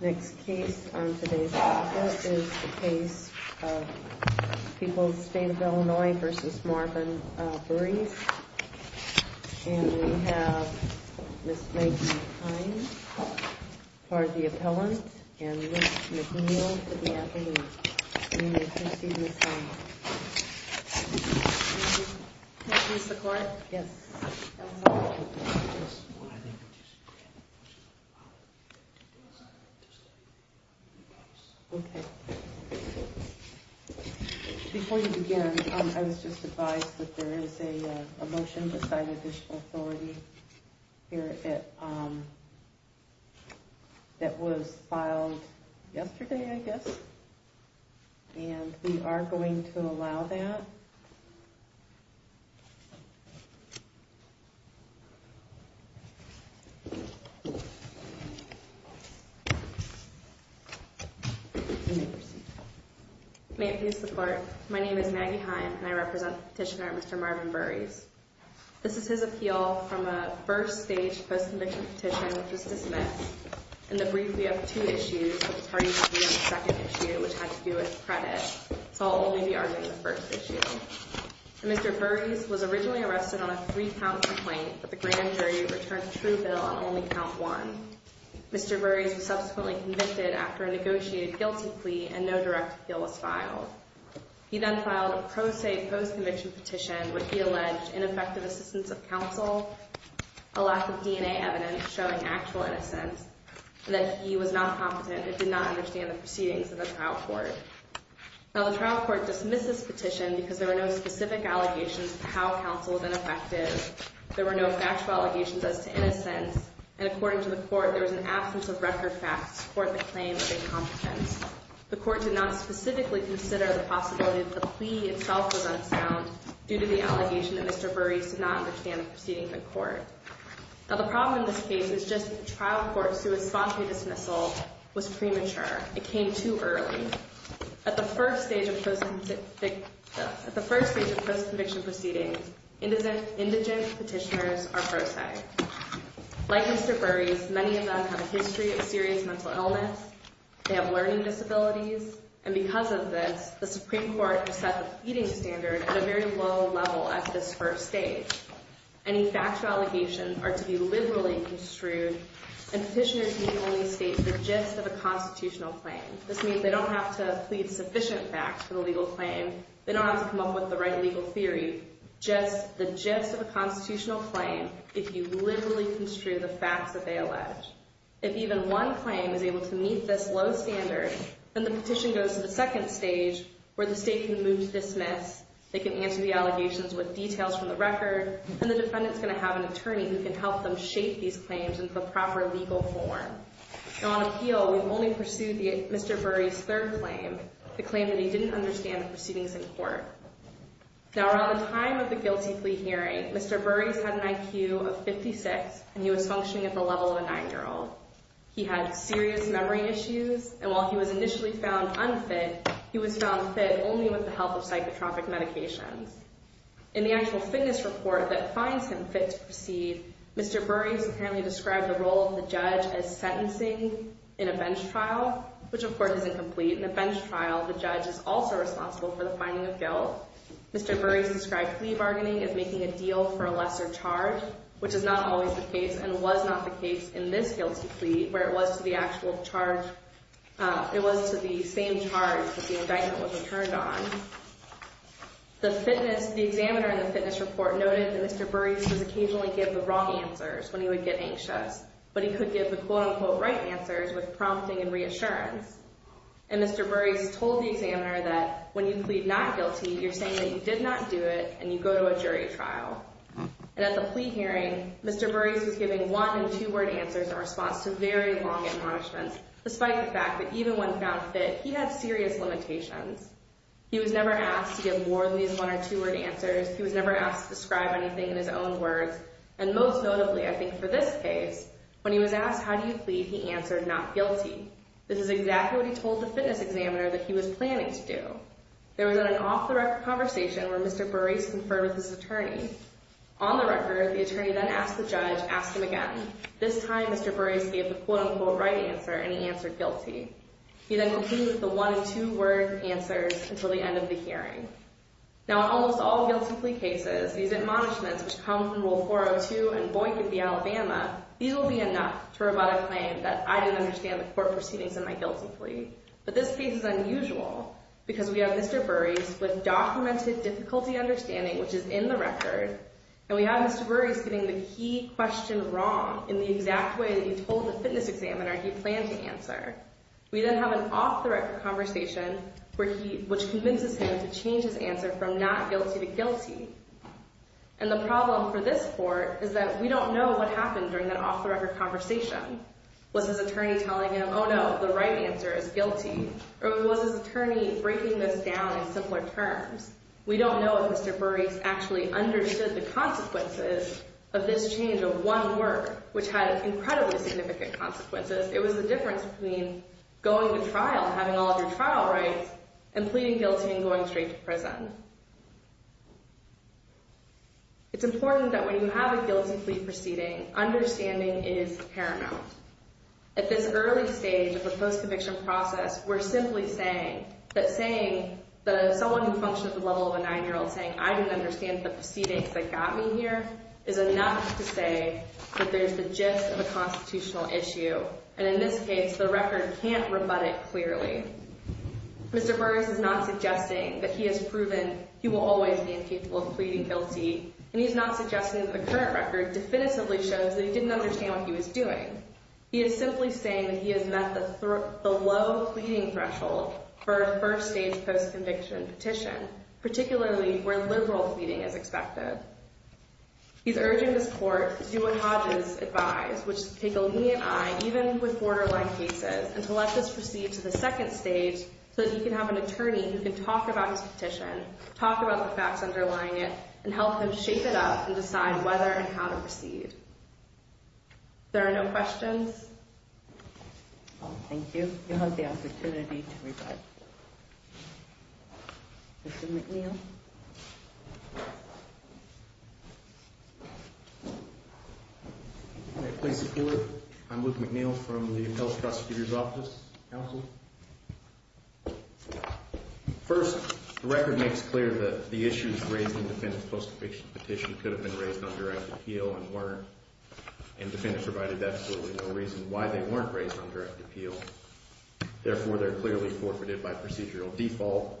Next case on today's agenda is the case of People's State of Illinois v. Marvin Burries And we have Ms. Megan Hines, part of the appellant, and Ms. McNeil for the attorney You may proceed, Ms. Hines Can I please support? Yes Okay Before we begin, I was just advised that there is a motion beside additional authority here that was filed yesterday, I guess And we are going to allow that You may proceed May it please the court, my name is Maggie Hines and I represent the petitioner, Mr. Marvin Burries This is his appeal from a first stage post-conviction petition, which was dismissed In the brief, we have two issues, but it's hard for you to read on the second issue, which had to do with credit So I'll only be arguing the first issue Mr. Burries was originally arrested on a three count complaint, but the grand jury returned a true bill on only count one Mr. Burries was subsequently convicted after a negotiated guilty plea and no direct appeal was filed He then filed a pro se post-conviction petition, which he alleged ineffective assistance of counsel, a lack of DNA evidence showing actual innocence And that he was not competent and did not understand the proceedings of the trial court Now the trial court dismissed this petition because there were no specific allegations of how counsel was ineffective There were no factual allegations as to innocence And according to the court, there was an absence of record facts to support the claim of incompetence The court did not specifically consider the possibility that the plea itself was unsound due to the allegation that Mr. Burries did not understand the proceedings of the court Now the problem in this case is just that the trial court, through a spontaneous dismissal, was premature It came too early At the first stage of post-conviction proceedings, indigent petitioners are pro se Like Mr. Burries, many of them have a history of serious mental illness They have learning disabilities And because of this, the Supreme Court has set the feeding standard at a very low level at this first stage Any factual allegations are to be liberally construed And petitioners may only state the gist of a constitutional claim This means they don't have to plead sufficient facts for the legal claim They don't have to come up with the right legal theory Just the gist of a constitutional claim if you liberally construe the facts that they allege If even one claim is able to meet this low standard, then the petition goes to the second stage where the state can move to dismiss They can answer the allegations with details from the record And the defendant's going to have an attorney who can help them shape these claims into the proper legal form Now on appeal, we've only pursued Mr. Burries' third claim The claim that he didn't understand the proceedings in court Now around the time of the guilty plea hearing, Mr. Burries had an IQ of 56 And he was functioning at the level of a 9-year-old He had serious memory issues And while he was initially found unfit, he was found fit only with the help of psychotropic medications In the actual fitness report that finds him fit to proceed Mr. Burries apparently described the role of the judge as sentencing in a bench trial Which of course is incomplete In a bench trial, the judge is also responsible for the finding of guilt Mr. Burries described plea bargaining as making a deal for a lesser charge Which is not always the case and was not the case in this guilty plea Where it was to the actual charge It was to the same charge that the indictment was returned on The examiner in the fitness report noted that Mr. Burries would occasionally give the wrong answers When he would get anxious But he could give the quote-unquote right answers with prompting and reassurance And Mr. Burries told the examiner that when you plead not guilty You're saying that you did not do it and you go to a jury trial And at the plea hearing, Mr. Burries was giving one- and two-word answers In response to very long admonishments Despite the fact that even when found fit, he had serious limitations He was never asked to give more than these one- or two-word answers He was never asked to describe anything in his own words And most notably, I think for this case When he was asked how do you plead, he answered not guilty This is exactly what he told the fitness examiner that he was planning to do There was an off-the-record conversation where Mr. Burries conferred with his attorney On the record, the attorney then asked the judge, ask him again This time, Mr. Burries gave the quote-unquote right answer and he answered guilty He then concluded with the one- and two-word answers until the end of the hearing Now in almost all guilty plea cases, these admonishments Which come from Rule 402 and Boynton v. Alabama These will be enough to provide a claim that I didn't understand the court proceedings in my guilty plea But this case is unusual because we have Mr. Burries With documented difficulty understanding, which is in the record And we have Mr. Burries getting the key question wrong We then have an off-the-record conversation Which convinces him to change his answer from not guilty to guilty And the problem for this court is that we don't know what happened During that off-the-record conversation Was his attorney telling him, oh no, the right answer is guilty Or was his attorney breaking this down in simpler terms We don't know if Mr. Burries actually understood the consequences Of this change of one word, which had incredibly significant consequences It was the difference between going to trial, having all of your trial rights And pleading guilty and going straight to prison It's important that when you have a guilty plea proceeding Understanding is paramount At this early stage of the post-conviction process We're simply saying that someone who functions at the level of a nine-year-old Saying I didn't understand the proceedings that got me here Is enough to say that there's the gist of a constitutional issue And in this case, the record can't rebut it clearly Mr. Burries is not suggesting that he has proven He will always be incapable of pleading guilty And he's not suggesting that the current record definitively shows That he didn't understand what he was doing He is simply saying that he has met the low pleading threshold For a first-stage post-conviction petition Particularly where liberal pleading is expected He's urging this court to do what Hodges advised Which is to take a lenient eye, even with borderline cases And to let this proceed to the second stage So that he can have an attorney who can talk about his petition Talk about the facts underlying it And help him shape it up and decide whether and how to proceed There are no questions? Thank you. You have the opportunity to rebut Mr. McNeil? May I please support? I'm Luke McNeil from the Appellate Prosecutor's Office Counsel? First, the record makes clear that the issues raised In the defendant's post-conviction petition Could have been raised on direct appeal and weren't And the defendant provided absolutely no reason Why they weren't raised on direct appeal Therefore, they're clearly forfeited by procedural default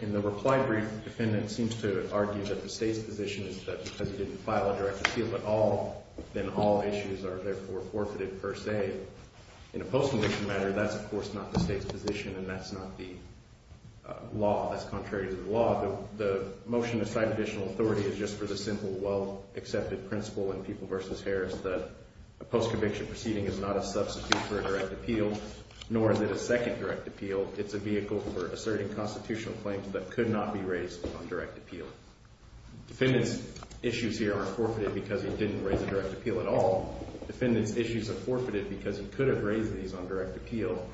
In the reply brief, the defendant seems to argue That the state's position is that because he didn't file A direct appeal at all, then all issues are therefore Forfeited per se In a post-conviction matter, that's of course not the state's position And that's not the law, that's contrary to the law The motion to cite additional authority is just for the simple Well-accepted principle in People v. Harris That a post-conviction proceeding is not a substitute For a direct appeal, nor is it a second direct appeal It's a vehicle for asserting constitutional claims That could not be raised on direct appeal Defendant's issues here aren't forfeited because he didn't Raise a direct appeal at all Defendant's issues are forfeited because he could have raised These on direct appeal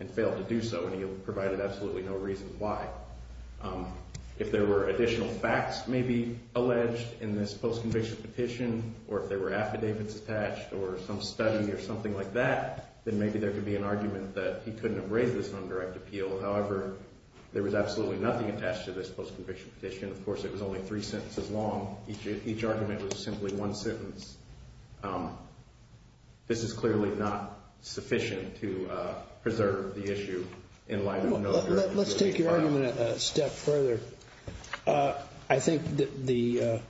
and failed to do so And he provided absolutely no reason why If there were additional facts maybe alleged In this post-conviction petition Or if there were affidavits attached Or some study or something like that Then maybe there could be an argument that he couldn't have Raised this on direct appeal However, there was absolutely nothing attached to this Post-conviction petition Of course, it was only three sentences long Each argument was simply one sentence This is clearly not sufficient to preserve the issue In light of no direct appeal Let's take your argument a step further I think the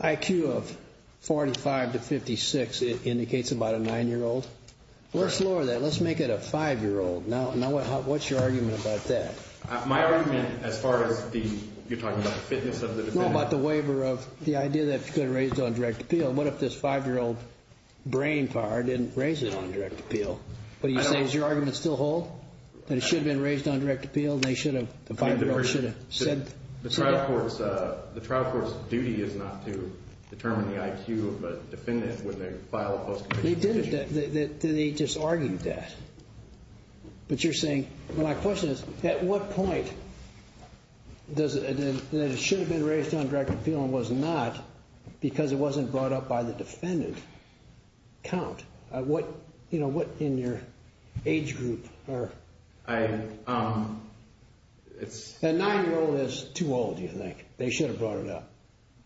IQ of 45 to 56 Indicates about a nine-year-old Let's lower that, let's make it a five-year-old Now, what's your argument about that? My argument as far as the You're talking about the fitness of the defendant No, about the waiver of The idea that it could have been raised on direct appeal What if this five-year-old brain power Didn't raise it on direct appeal? What do you say, is your argument still whole? That it should have been raised on direct appeal? The five-year-old should have said The trial court's duty is not to File a post-conviction petition They just argued that But you're saying, my question is At what point That it should have been raised on direct appeal And was not Because it wasn't brought up by the defendant Count What, you know, what in your age group A nine-year-old is too old, do you think? They should have brought it up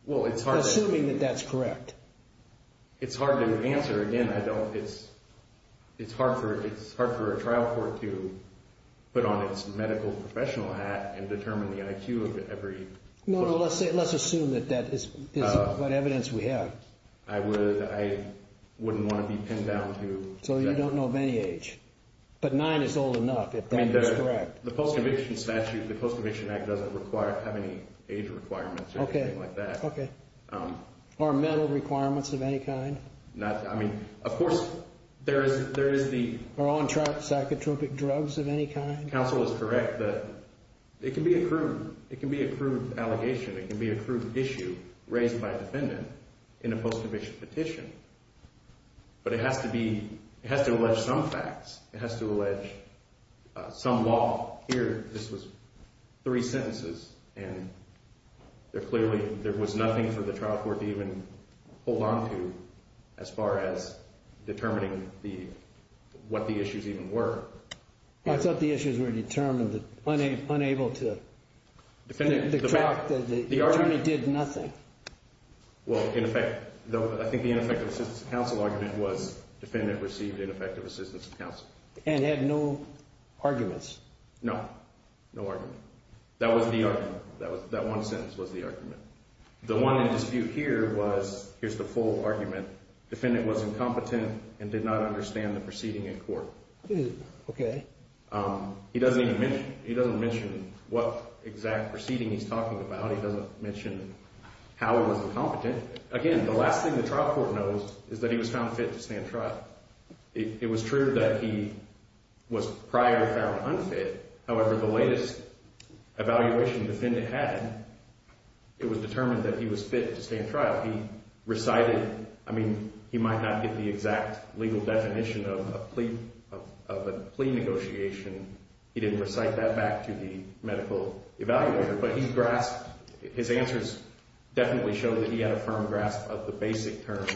Assuming that that's correct It's hard to answer, again, I don't It's hard for a trial court to Put on its medical professional hat And determine the IQ of every No, no, let's assume that that is What evidence we have I would, I wouldn't want to be pinned down to So you don't know of any age But nine is old enough, if that is correct The post-conviction statute The post-conviction act doesn't require Have any age requirements or anything like that Okay Or mental requirements of any kind Not, I mean, of course There is, there is the Or on psychotropic drugs of any kind Counsel is correct that It can be a crude It can be a crude allegation It can be a crude issue Raised by a defendant In a post-conviction petition But it has to be It has to allege some facts It has to allege Some law Here, this was Three sentences And There clearly, there was nothing For the trial court to even Hold on to As far as Determining the What the issues even were I thought the issues were determined Unable to Defendant, the argument Did nothing Well, in effect I think the ineffective assistance of counsel argument was Defendant received ineffective assistance of counsel And had no Arguments No No argument That was the argument That one sentence was the argument The one in dispute here was Here's the full argument Defendant was incompetent And did not understand the proceeding in court Okay He doesn't even mention He doesn't mention What exact proceeding he's talking about He doesn't mention How he was incompetent Again, the last thing the trial court knows Is that he was found fit to stand trial It was true that he Was prior found unfit However, the latest Evaluation defendant had It was determined that he was fit to stand trial He recited I mean, he might not get the exact Legal definition of a plea Of a plea negotiation He didn't recite that back to the Medical evaluator But he grasped His answers Definitely show that he had a firm grasp Of the basic terms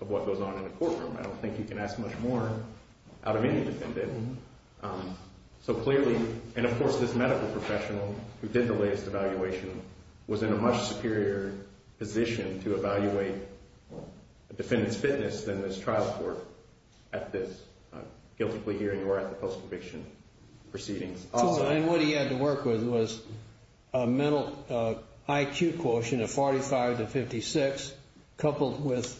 Of what goes on in the courtroom I don't think you can ask much more Out of any defendant So clearly And of course, this medical professional Who did the latest evaluation Was in a much superior position To evaluate A defendant's fitness than this trial court At this I'm guiltily hearing you are at the post-conviction Proceedings And what he had to work with was A mental IQ quotient Of 45 to 56 Coupled with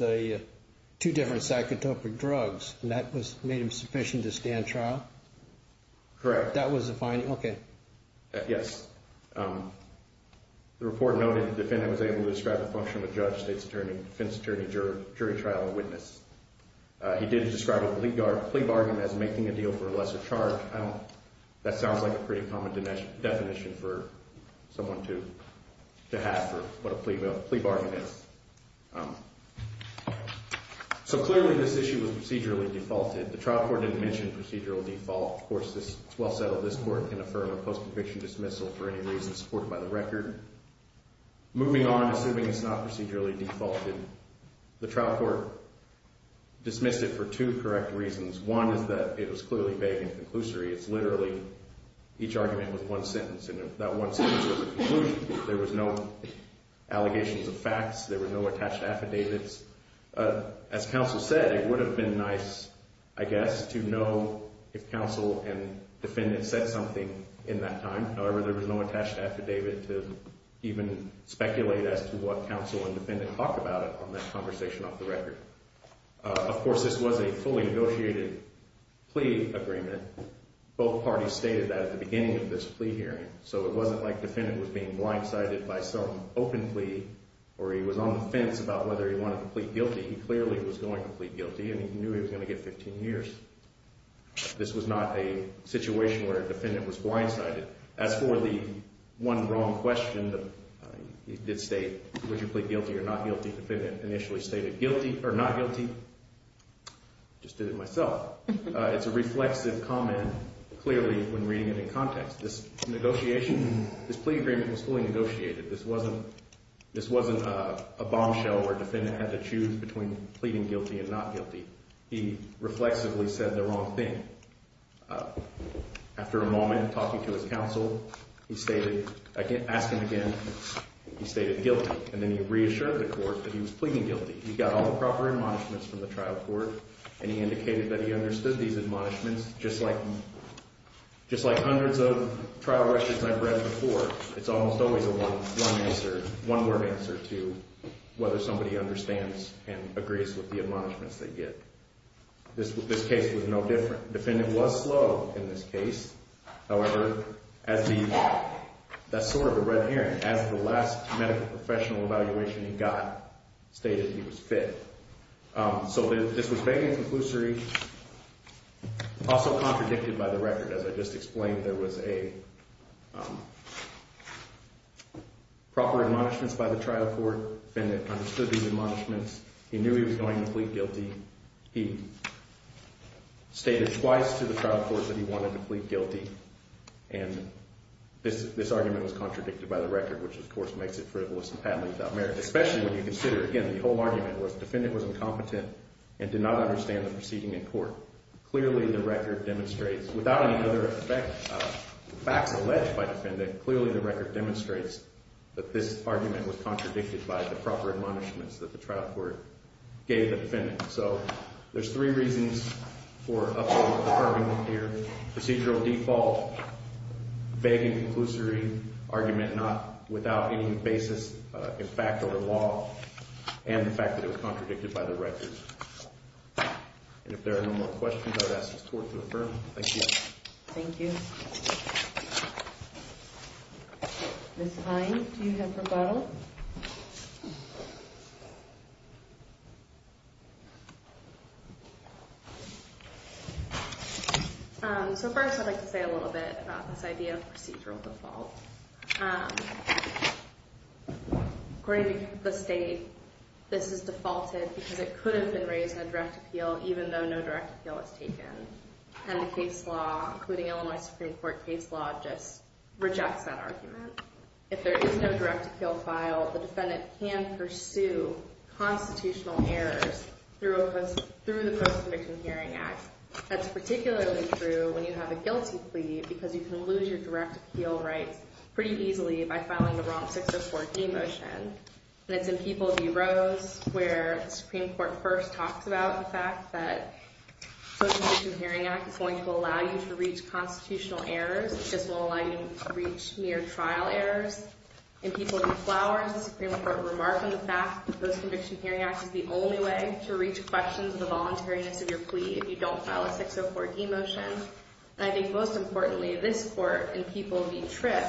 Two different psychotropic drugs And that made him sufficient to stand trial Correct That was the finding, okay Yes The report noted the defendant was able to describe The function of a judge, state's attorney, defense attorney Jury trial and witness He did describe a plea bargain As making a deal for a lesser charge That sounds like a pretty common Definition for Someone to have For what a plea bargain is So clearly this issue was procedurally defaulted The trial court didn't mention procedural default Of course, it's well settled this court can Affirm a post-conviction dismissal for any reason Supported by the record Moving on, assuming it's not procedurally Defaulted, the trial court Dismissed it for Two correct reasons, one is that It was clearly vague and conclusory, it's literally Each argument was one sentence And if that one sentence was a conclusion There was no allegations Of facts, there were no attached affidavits As counsel said It would have been nice, I guess To know if counsel And defendant said something In that time, however there was no attached affidavit To even speculate As to what counsel and defendant Talked about it on that conversation off the record Of course this was a Fully negotiated plea agreement Both parties stated That at the beginning of this plea hearing So it wasn't like defendant was being blindsided By some open plea Or he was on the fence about whether he wanted to Plead guilty and he knew he was going to get 15 years This was not a Situation where defendant was blindsided As for the One wrong question He did state, would you plead guilty or not guilty Defendant initially stated guilty Or not guilty Just did it myself It's a reflexive comment clearly When reading it in context This negotiation, this plea agreement was fully negotiated This wasn't This wasn't a bombshell where defendant Had to choose between pleading guilty and not guilty He reflexively Said the wrong thing After a moment Talking to his counsel He stated, asking again He stated guilty and then he reassured the court That he was pleading guilty He got all the proper admonishments from the trial court And he indicated that he understood these admonishments Just like Just like hundreds of trial records I've read before It's almost always a one answer One word answer to Whether somebody understands and agrees With the admonishments they get This case was no different Defendant was slow in this case However That's sort of the red herring As the last medical professional evaluation He got Stated he was fit So this was vaguely conclusory Also contradicted by the record As I just explained There was a Proper Proper admonishments by the trial court Defendant understood these admonishments He knew he was going to plead guilty He Stated twice to the trial court That he wanted to plead guilty And this argument was Contradicted by the record which of course makes it Frivolous and patently without merit Especially when you consider again the whole argument Where the defendant was incompetent and did not understand The proceeding in court Clearly the record demonstrates Without any other effect The facts alleged by the defendant Clearly the record demonstrates That this argument was contradicted by the proper Admonishments that the trial court Gave the defendant So there's three reasons for Upholding the deferment here Procedural default Vague and conclusory argument Not without any basis In fact over law And the fact that it was contradicted by the record And if there are no more Questions I would ask the court to affirm Thank you Ms. Hines, do you have rebuttal? So first I'd like to say a little bit About this idea of procedural default According to the state This is defaulted because it could have been raised In a direct appeal even though no direct appeal Was taken And the case law, including Illinois Supreme Court case law Just rejects that argument If there is no direct appeal Filed, the defendant can pursue Constitutional errors Through the Post-conviction hearing act That's particularly true when you have a guilty plea Because you can lose your direct appeal Rights pretty easily by filing The wrong 604D motion And it's in People v. Rose Where the Supreme Court first talks about The fact that Post-conviction hearing act is going to allow you To reach constitutional errors It just won't allow you to reach mere trial errors In People v. Flowers The Supreme Court remarked on the fact That the post-conviction hearing act is the only way To reach questions of the voluntariness of your plea If you don't file a 604D motion And I think most importantly This court in People v. Tripp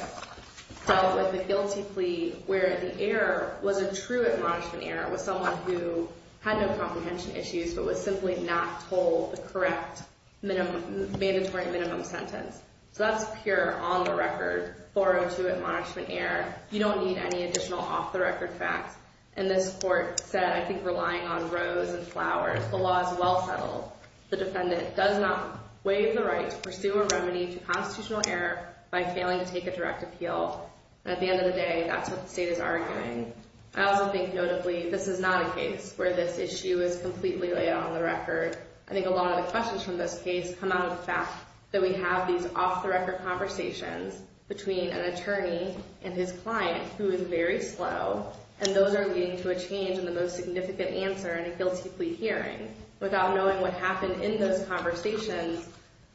Dealt with the guilty plea Where the error Was a true admonishment error With someone who had no comprehension issues But was simply not told The correct mandatory minimum sentence So that's pure On the record 402 admonishment error You don't need any additional off the record facts And this court said I think relying on Rose and Flowers The law is well settled The defendant does not waive the right To pursue a remedy to constitutional error By failing to take a direct appeal At the end of the day That's what the state is arguing I also think notably this is not a case Where this issue is completely On the record I think a lot of the questions from this case Come out of the fact that we have these Off the record conversations Between an attorney and his client Who is very slow And those are leading to a change In the most significant answer In a guilty plea hearing Without knowing what happened in those conversations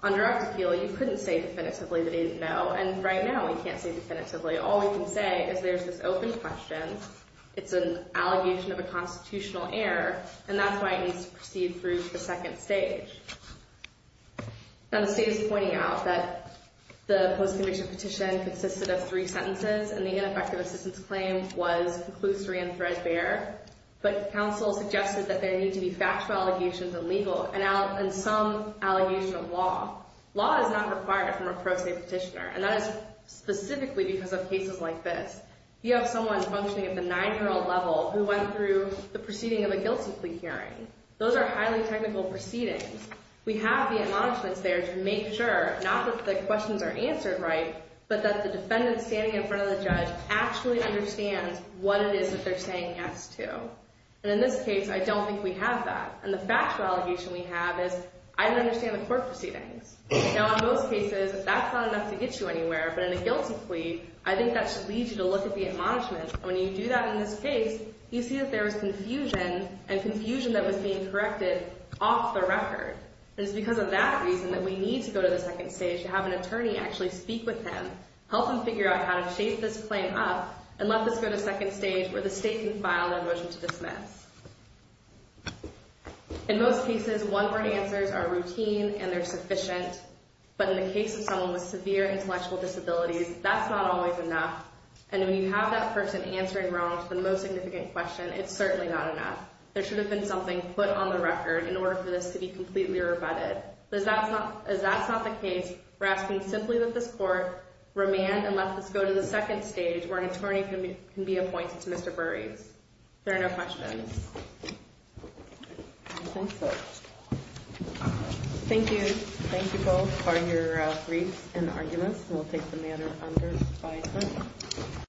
On direct appeal You couldn't say definitively that he didn't know And right now we can't say definitively All we can say is there's this open question It's an allegation of a constitutional error And that's why it needs to proceed Through the second stage Now the state is pointing out That the post-conviction petition Consisted of three sentences And the ineffective assistance claim Was conclusory and threadbare But counsel suggested That there need to be factual allegations And legal and some Allegation of law Law is not required from a pro se petitioner And that is specifically because of cases like this You have someone functioning At the nine-year-old level Who went through the proceeding of a guilty plea hearing Those are highly technical proceedings We have the acknowledgments there To make sure not that the questions Are answered right But that the defendant standing in front of the judge Actually understands what it is That they're saying yes to And in this case I don't think we have that And the factual allegation we have is I don't understand the court proceedings Now in most cases That's not enough to get you anywhere But in a guilty plea I think that should lead you to look at the Admonishments and when you do that in this case You see that there was confusion And confusion that was being corrected Off the record And it's because of that reason that we need to go to the second stage To have an attorney actually speak with him Help him figure out how to shape this claim up And let this go to second stage Where the state can file their motion to dismiss In most cases one word answers Are routine and they're sufficient But in the case of someone with severe Intellectual disabilities that's not always Enough and when you have that person Answering wrong to the most significant question It's certainly not enough There should have been something put on the record In order for this to be completely rebutted But as that's not the case We're asking simply that this court Remand and let this go to the second stage Where an attorney can be appointed to Mr. Burry If there are no questions I think so Thank you Thank you both For your briefs and arguments We'll take the matter under Dispatch